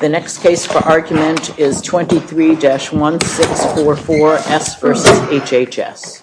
The next case for argument is 23-1644 S v. HHS. 23-1644 S v. HHS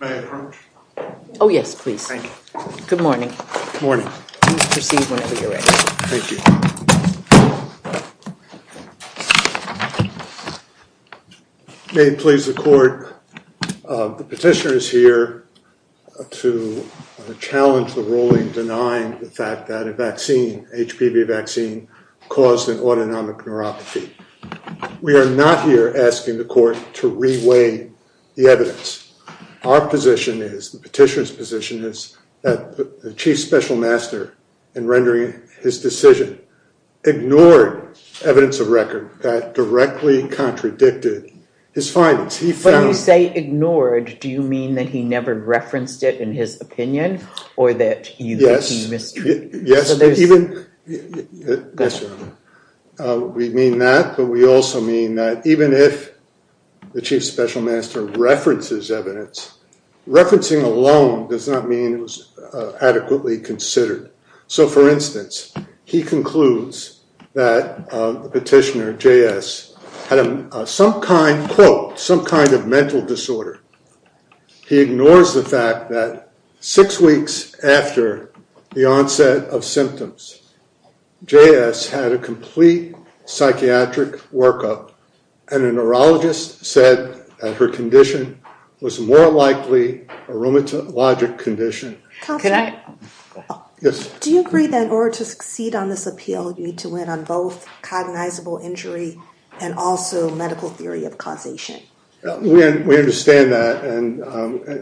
May I approach? Oh, yes, please. Good morning. Please proceed whenever you're ready. Thank you. May it please the court, the petitioner is here to challenge the ruling denying the fact that a vaccine, HPV vaccine, caused an autonomic neuropathy. We are not here asking the court to re-weigh the evidence. Our position is, the petitioner's position is that the chief special master, in rendering his decision, ignored evidence of record that directly contradicted his findings. He found- When you say ignored, do you mean that he never referenced it in his opinion, or that he mistreated it? Yes, even, yes, Your Honor. We mean that, but we also mean that even if the chief special master references evidence, referencing alone does not mean it was adequately considered. So for instance, he concludes that the petitioner, JS, had some kind, quote, some kind of mental disorder. He ignores the fact that six weeks after the onset of symptoms, JS had a complete psychiatric workup. And a neurologist said that her condition was more likely a rheumatologic condition. Can I? Yes. Do you agree that in order to succeed on this appeal, you need to win on both cognizable injury and also medical theory of causation? We understand that. And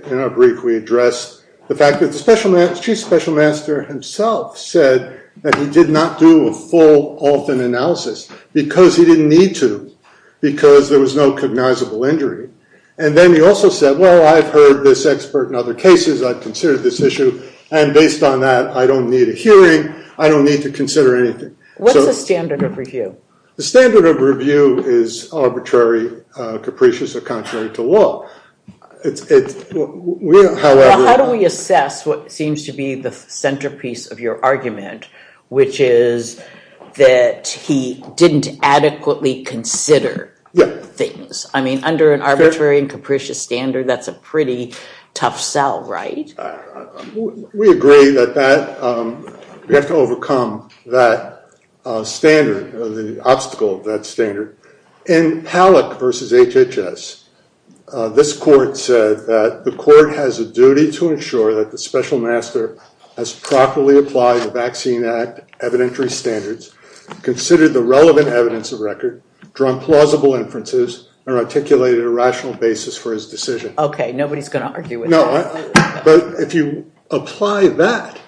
in our brief, we address the fact that the chief special master himself said that he did not do a full, often analysis because he didn't need to, because there was no cognizable injury. And then he also said, well, I've heard this expert in other cases. I've considered this issue. And based on that, I don't need a hearing. I don't need to consider anything. What is the standard of review? The standard of review is arbitrary, capricious, or contrary to law. It's real, however. How do we assess what seems to be the centerpiece of your argument, which is that he didn't adequately consider things? I mean, under an arbitrary and capricious standard, that's a pretty tough sell, right? We agree that we have to overcome that standard, the obstacle of that standard. In Palak v. HHS, this court said that the court has a duty to ensure that the special master has properly applied the Vaccine Act evidentiary standards, considered the relevant evidence of record, drawn plausible inferences, and articulated a rational basis for his decision. OK, nobody's going to argue with that. But if you apply that,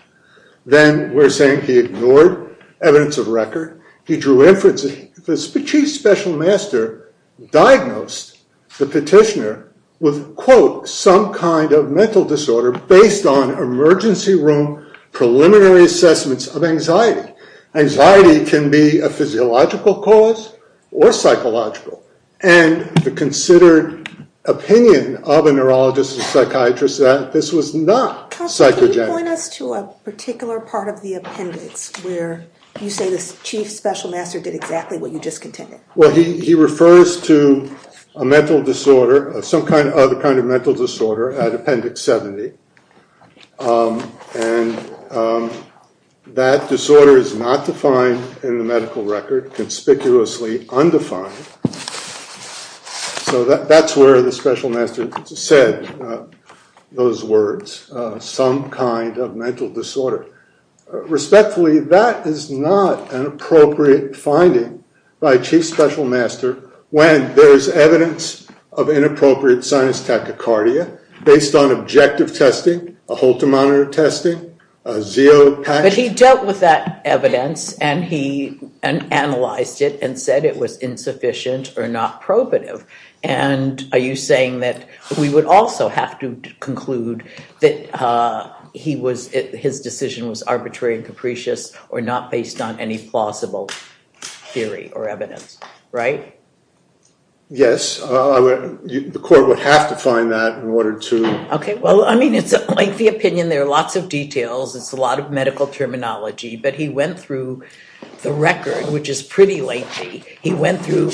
then we're saying he ignored evidence of record, he drew inferences, the chief special master diagnosed the petitioner with, quote, some kind of mental disorder based on emergency room preliminary assessments of anxiety. Anxiety can be a physiological cause or psychological. And the considered opinion of a neurologist and psychiatrist that this was not psychogenic. Counsel, can you point us to a particular part of the appendix where you say this chief special master did exactly what you just contended? Well, he refers to a mental disorder, some kind of other kind of mental disorder, at appendix 70. And that disorder is not defined in the medical record, conspicuously undefined. So that's where the special master said those words, some kind of mental disorder. Respectfully, that is not an appropriate finding by chief special master when there is evidence of inappropriate sinus tachycardia based on objective testing, a Holter monitor testing, a ZEO patch. But he dealt with that evidence, and he analyzed it, and said it was insufficient or not probative. And are you saying that we would also have to conclude that his decision was arbitrary and capricious or not based on any plausible theory or evidence, right? Yes. The court would have to find that in order to. OK, well, I mean, it's a lengthy opinion. There are lots of details. It's a lot of medical terminology. But he went through the record, which is pretty lengthy. He went through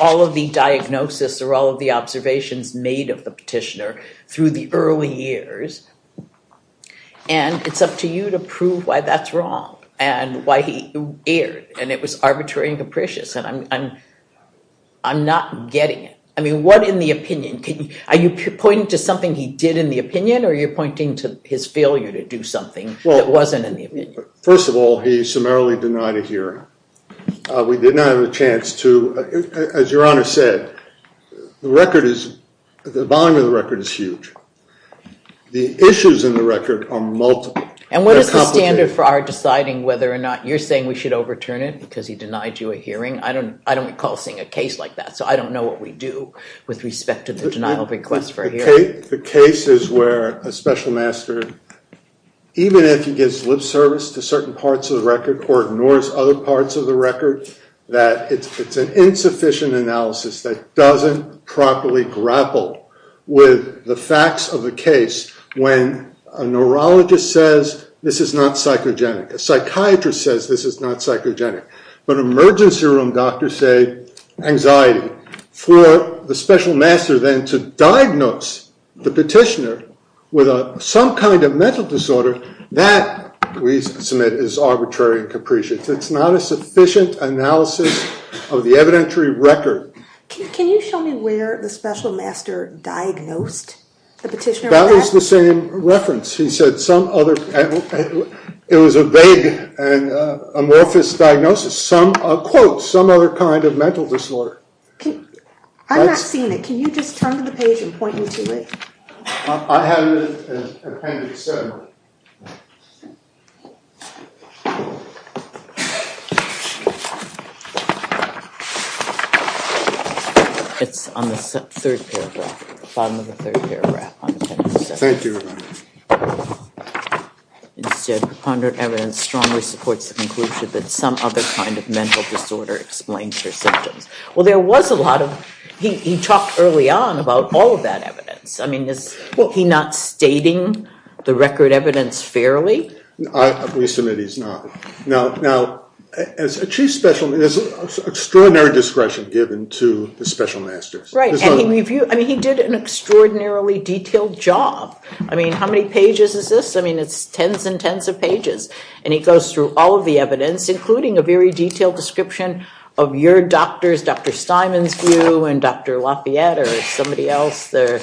all of the diagnosis or all of the observations made of the petitioner through the early years. And it's up to you to prove why that's wrong and why he erred. And it was arbitrary and capricious. And I'm not getting it. I mean, what in the opinion? Are you pointing to something he did in the opinion, or are you pointing to his failure to do something that wasn't in the opinion? First of all, he summarily denied a hearing. We did not have a chance to. As Your Honor said, the volume of the record is huge. The issues in the record are multiple. And what is the standard for our deciding whether or not you're saying we should overturn it because he denied you a hearing? I don't recall seeing a case like that. So I don't know what we do with respect to the denial of request for a hearing. The case is where a special master, even if he gives lip service to certain parts of the record or ignores other parts of the record, that it's an insufficient analysis that doesn't properly grapple with the facts of the case when a neurologist says, this is not psychogenic. A psychiatrist says, this is not psychogenic. But emergency room doctors say, anxiety. For the special master then to diagnose the petitioner with some kind of mental disorder, that, we submit, is arbitrary and capricious. It's not a sufficient analysis of the evidentiary record. Can you show me where the special master diagnosed the petitioner with that? That is the same reference. He said some other. It was a vague and amorphous diagnosis. Quote, some other kind of mental disorder. I'm not seeing it. Can you just turn to the page and point me to it? I have it in appendix 7. It's on the third paragraph, bottom of the third paragraph. Thank you, Your Honor. Instead, preponderant evidence strongly supports the conclusion that some other kind of mental disorder explains her symptoms. Well, there was a lot of, he talked early on about all of that evidence. I mean, is he not stating the record evidence fairly? We submit he's not. Now, I'm not saying that he's not stating the record evidence as a chief special, there's extraordinary discretion given to the special masters. Right, and he did an extraordinarily detailed job. I mean, how many pages is this? I mean, it's tens and tens of pages. And he goes through all of the evidence, including a very detailed description of your doctors, Dr. Steinman's view, and Dr. Lafayette, or somebody else, or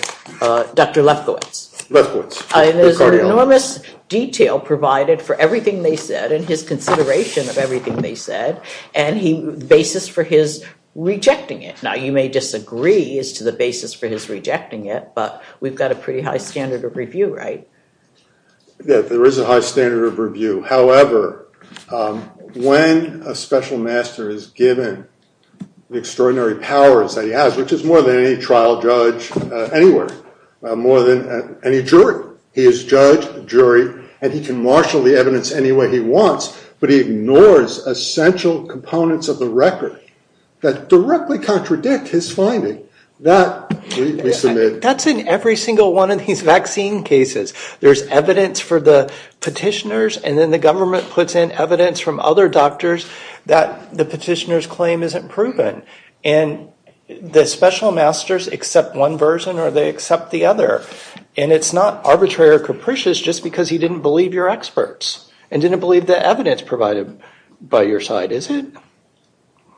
Dr. Lefkowitz. Lefkowitz, their cardiologist. And there's enormous detail provided for everything they said, and his consideration of everything they said, and the basis for his rejecting it. Now, you may disagree as to the basis for his rejecting it, but we've got a pretty high standard of review, right? There is a high standard of review. However, when a special master is given the extraordinary powers that he has, which is more than any trial judge anywhere, more than any jury. He is judge, jury, and he can marshal the evidence any way he wants, but he ignores essential components of the record that directly contradict his finding. That, we submit. That's in every single one of these vaccine cases. There's evidence for the petitioners, and then the government puts in evidence from other doctors that the petitioner's claim isn't proven. And the special masters accept one version, or they accept the other. And it's not arbitrary or capricious just because he didn't believe your experts, and didn't believe the evidence provided by your side, is it?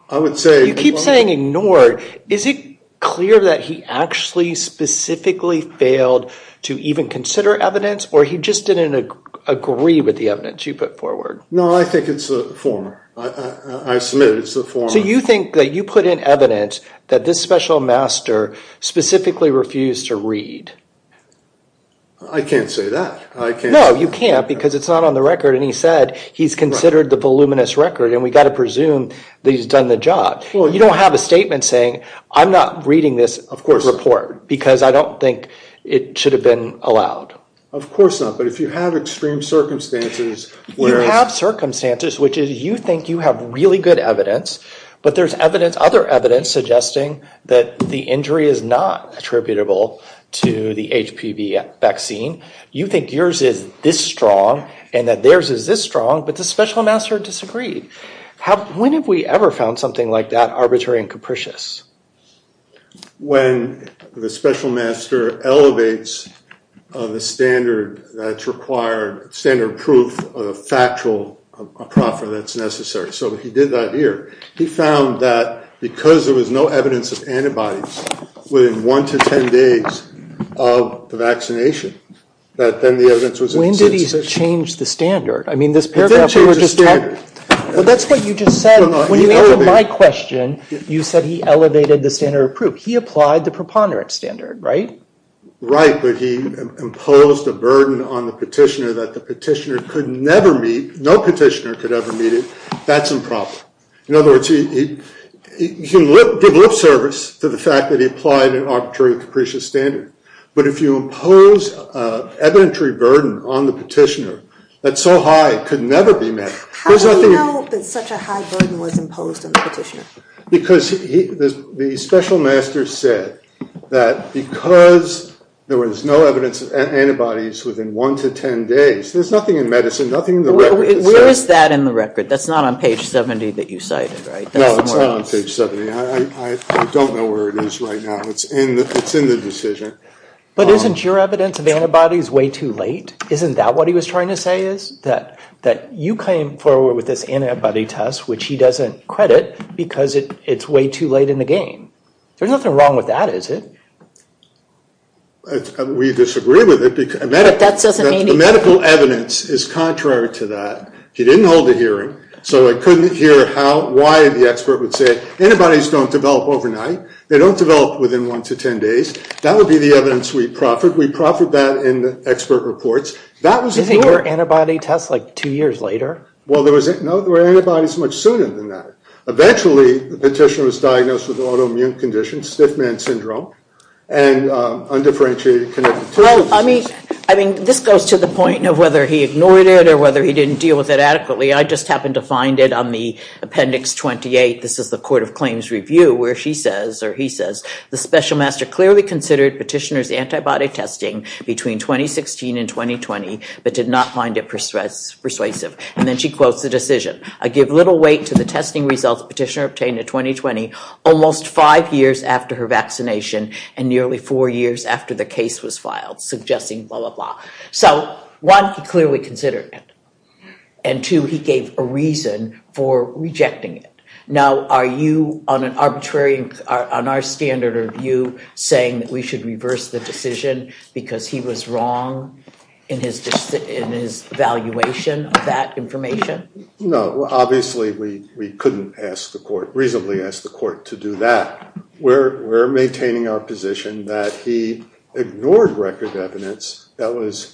I would say. You keep saying ignored. Is it clear that he actually specifically failed to even consider evidence, or he just didn't agree with the evidence you put forward? No, I think it's the former. I submit it's the former. So you think that you put in evidence that this special master specifically refused to read? I can't say that. I can't. No, you can't, because it's not on the record. And he said he's considered the voluminous record, and we've got to presume that he's done the job. Well, you don't have a statement saying, I'm not reading this report, because I don't think it should have been allowed. Of course not. But if you have extreme circumstances, where is it? You have circumstances, which is you think you have really good evidence, but there's other evidence suggesting that the injury is not attributable to the HPV vaccine. You think yours is this strong, and that theirs is this strong, but the special master disagreed. When have we ever found something like that arbitrary and capricious? When the special master elevates the standard that's required, standard proof of factual proffer that's necessary. So he did that here. He found that because there was no evidence of antibodies within 1 to 10 days of the vaccination, that then the evidence was inconsistent. When did he change the standard? I mean, this paragraph we were just talking about. Well, that's what you just said. When you answered my question, you said he elevated the standard of proof. He applied the preponderance standard, right? Right, but he imposed a burden on the petitioner that the petitioner could never meet, no petitioner could ever meet it. That's improper. In other words, he gave lip service to the fact that he applied an arbitrary and capricious standard. But if you impose evidentiary burden on the petitioner that's so high it could never be met, there's nothing in it. How do you know that such a high burden was imposed on the petitioner? Because the special master said that because there was no evidence of antibodies within 1 to 10 days, there's nothing in medicine, nothing in the record Where is that in the record? That's not on page 70 that you cited, right? No, it's not on page 70. I don't know where it is right now. It's in the decision. But isn't your evidence of antibodies way too late? Isn't that what he was trying to say is? That you came forward with this antibody test, which he doesn't credit because it's way too late in the game. There's nothing wrong with that, is it? We disagree with it. That doesn't mean anything. The medical evidence is contrary to that. He didn't hold a hearing, so I couldn't hear why the expert would say antibodies don't develop overnight. They don't develop within 1 to 10 days. That would be the evidence we proffered. We proffered that in the expert reports. Isn't your antibody test like two years later? Well, there were antibodies much sooner than that. Eventually, the petitioner was diagnosed with autoimmune conditions, stiff man syndrome, and undifferentiated connective tissue. I mean, this goes to the point of whether he ignored it or whether he didn't deal with it adequately. I just happened to find it on the appendix 28. This is the Court of Claims review, where she says, or he says, the special master clearly considered petitioner's antibody testing between 2016 and 2020, but did not find it persuasive. And then she quotes the decision. I give little weight to the testing results petitioner obtained in 2020, almost five years after her vaccination and nearly four years after the case was filed, suggesting blah, blah, blah. So one, he clearly considered it. And two, he gave a reason for rejecting it. Now, are you, on an arbitrary, on our standard of view, saying that we should reverse the decision because he was wrong in his evaluation of that information? No, obviously, we couldn't reasonably ask the court to do that. We're maintaining our position that he ignored record evidence that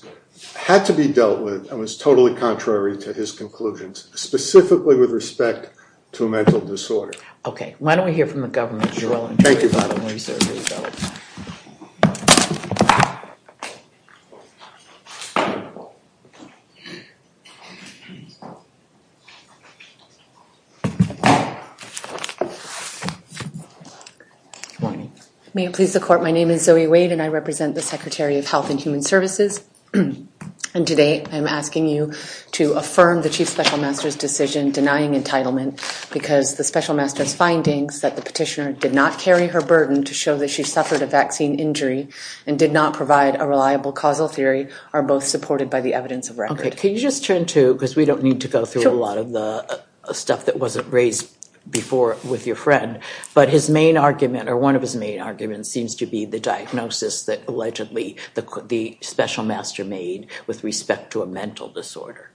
had to be dealt with and was totally contrary to his conclusions, specifically with respect to a mental disorder. OK. Why don't we hear from the government? Thank you. I don't want to be sure if it was dealt with. Good morning. May it please the court, my name is Zoe Wade, and I represent the Secretary of Health and Human Services. And today, I'm asking you to affirm the chief special master's decision denying entitlement because the special master's findings that the petitioner did not carry her burden to show that she suffered a vaccine injury and did not provide a reliable causal theory are both supported by the evidence of record. Can you just turn to, because we don't need to go through a lot of the stuff that wasn't raised before with your friend. But his main argument, or one of his main arguments, seems to be the diagnosis that, allegedly, the special master made with respect to a mental disorder.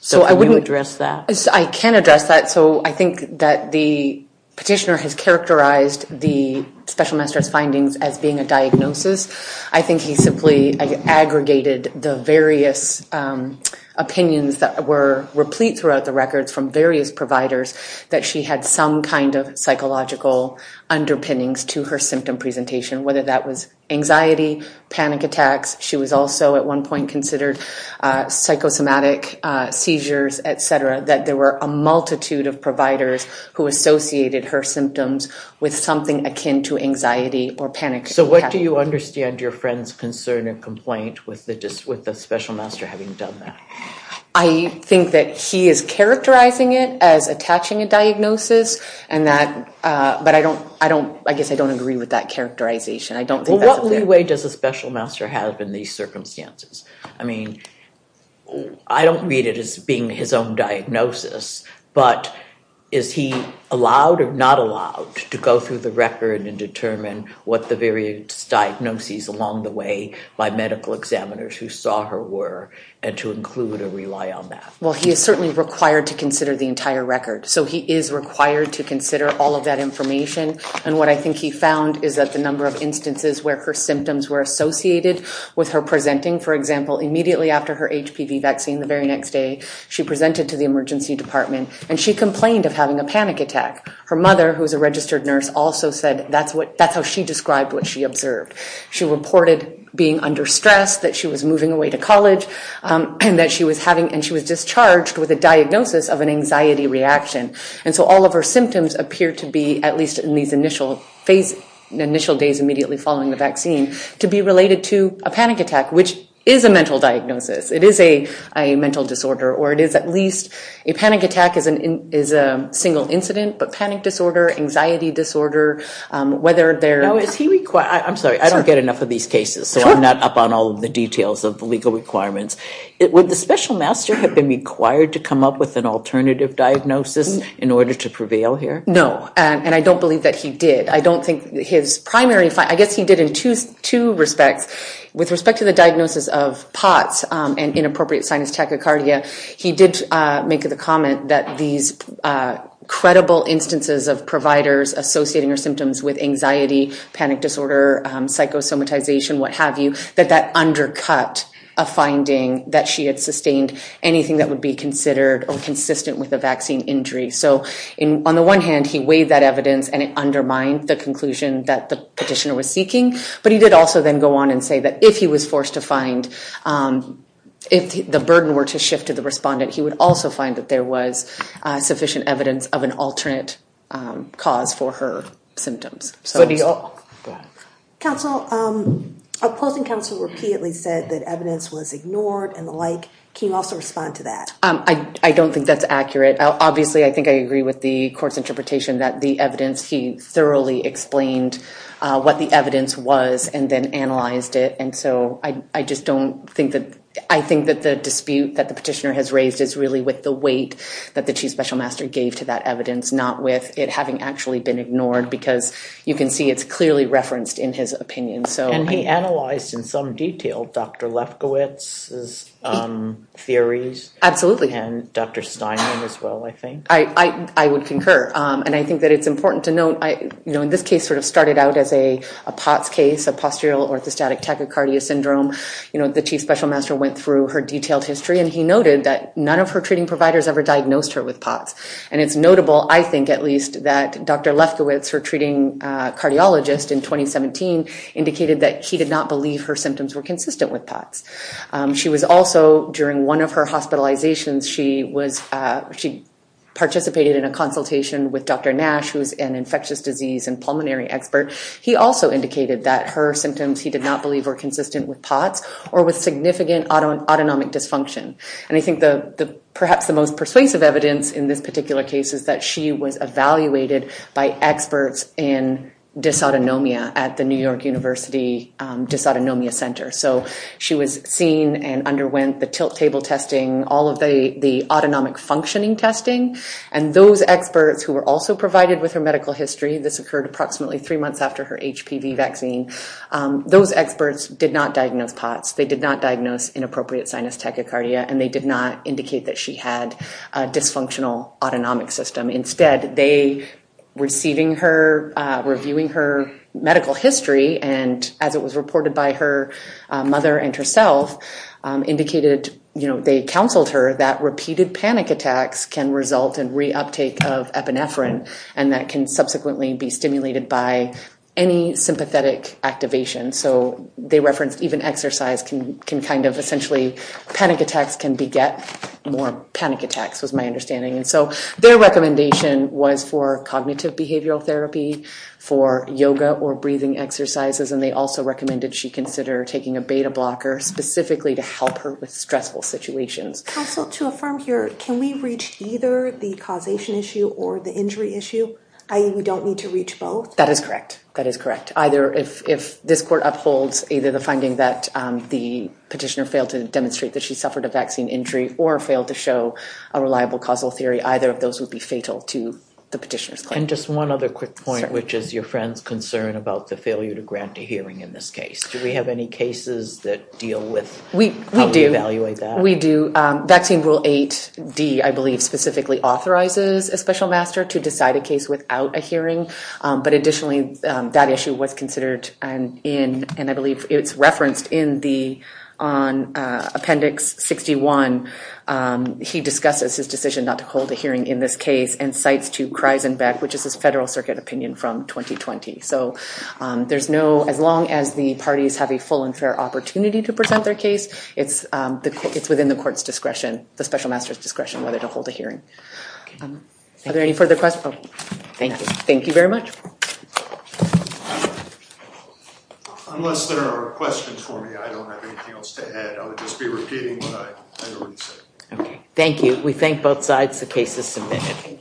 So can you address that? I can address that. So I think that the petitioner has characterized the special master's findings as being a diagnosis. I think he simply aggregated the various opinions that were replete throughout the records from various providers that she had some kind of psychological underpinnings to her symptom presentation, whether that was anxiety, panic attacks. She was also, at one point, considered psychosomatic seizures, et cetera, that there were a multitude of providers who associated her symptoms with something akin to anxiety or panic attacks. So what do you understand your friend's concern and complaint with the special master having done that? I think that he is characterizing it as attaching a diagnosis. And that, but I guess I don't agree with that characterization. I don't think that's a fair claim. Well, what leeway does the special master have in these circumstances? I mean, I don't read it as being his own diagnosis. But is he allowed or not allowed to go through the record and determine what the various diagnoses along the way by medical examiners who saw her were, and to include or rely on that? Well, he is certainly required to consider the entire record. So he is required to consider all of that information. And what I think he found is that the number of instances where her symptoms were associated with her presenting, for example, immediately after her HPV vaccine the very next day, she presented to the emergency department. And she complained of having a panic attack. Her mother, who is a registered nurse, also said that's what, that's how she described what she observed. She reported being under stress, that she was moving away to college, and that she was having, and she was discharged with a diagnosis of an anxiety reaction. And so all of her symptoms appear to be, at least in these initial days immediately following the vaccine, to be related to a panic attack, which is a mental diagnosis. It is a mental disorder. Or it is at least a panic attack is a single incident. But panic disorder, anxiety disorder, whether they're Now, is he required, I'm sorry, I don't get enough of these cases. So I'm not up on all of the details of the legal requirements. Would the special master have been required to come up with an alternative diagnosis in order to prevail here? No, and I don't believe that he did. I don't think his primary, I guess he did in two respects. With respect to the diagnosis of POTS, and inappropriate sinus tachycardia, he did make the comment that these credible instances of providers associating her symptoms with anxiety, panic disorder, psychosomatization, what have you, that that undercut a finding that she had sustained anything that would be considered inconsistent with a vaccine injury. So on the one hand, he weighed that evidence and it undermined the conclusion that the petitioner was But he did also then go on and say that if he was forced to find, if the burden were to shift to the respondent, he would also find that there was sufficient evidence of an alternate cause for her symptoms. So do you all. Counsel, opposing counsel repeatedly said that evidence was ignored and the like. Can you also respond to that? I don't think that's accurate. Obviously, I think I agree with the court's interpretation that the evidence, he thoroughly explained what the evidence was and then analyzed it. And so I just don't think that, I think that the dispute that the petitioner has raised is really with the weight that the chief special master gave to that evidence, not with it having actually been ignored. Because you can see it's clearly referenced in his opinion. And he analyzed in some detail Dr. Lefkowitz's theories. Absolutely. And Dr. Steinman as well, I think. I would concur. And I think that it's important to note, this case sort of started out as a POTS case, a postural orthostatic tachycardia syndrome. The chief special master went through her detailed history and he noted that none of her treating providers ever diagnosed her with POTS. And it's notable, I think at least, that Dr. Lefkowitz, her treating cardiologist in 2017, indicated that he did not believe her symptoms were consistent with POTS. She was also, during one of her hospitalizations, she participated in a consultation with Dr. Nash, who is an infectious disease and pulmonary expert. He also indicated that her symptoms he did not believe were consistent with POTS or with significant autonomic dysfunction. And I think perhaps the most persuasive evidence in this particular case is that she was evaluated by experts in dysautonomia at the New York University Dysautonomia Center. So she was seen and underwent the tilt table testing, all of the autonomic functioning testing. And those experts who were also provided with her medical history, this occurred approximately three months after her HPV vaccine, those experts did not diagnose POTS. They did not diagnose inappropriate sinus tachycardia and they did not indicate that she had a dysfunctional autonomic system. Instead, they, receiving her, reviewing her medical history, and as it was reported by her mother and herself, indicated they counseled her that repeated panic attacks can result in reuptake of epinephrine and that can subsequently be stimulated by any sympathetic activation. So they referenced even exercise can kind of essentially panic attacks can beget more panic attacks was my understanding. And so their recommendation was for cognitive behavioral therapy, for yoga or breathing exercises. And they also recommended she consider taking a beta blocker specifically to help her with stressful situations. Counsel, to affirm here, can we reach either the causation issue or the injury issue? I mean, we don't need to reach both? That is correct. That is correct. Either if this court upholds either the finding that the petitioner failed to demonstrate that she suffered a vaccine injury or failed to show a reliable causal theory, either of those would be fatal to the petitioner's claim. And just one other quick point, which is your friend's concern about the failure to grant a hearing in this case. Do we have any cases that deal with how we evaluate that? We do. Vaccine rule 8D, I believe, specifically authorizes a special master to decide a case without a hearing. But additionally, that issue was considered and I believe it's referenced in the appendix 61. He discusses his decision not to hold a hearing in this case and cites to Kreisenbeck, which is his Federal Circuit opinion from 2020. So there's no, as long as the parties have a full and fair opportunity to present their case, it's within the court's discretion, the special master's discretion, whether to hold a hearing. Are there any further questions? Thank you. Thank you very much. Thank you. Unless there are questions for me, I don't have anything else to add. I would just be repeating what I already said. Thank you. We thank both sides. The case is submitted.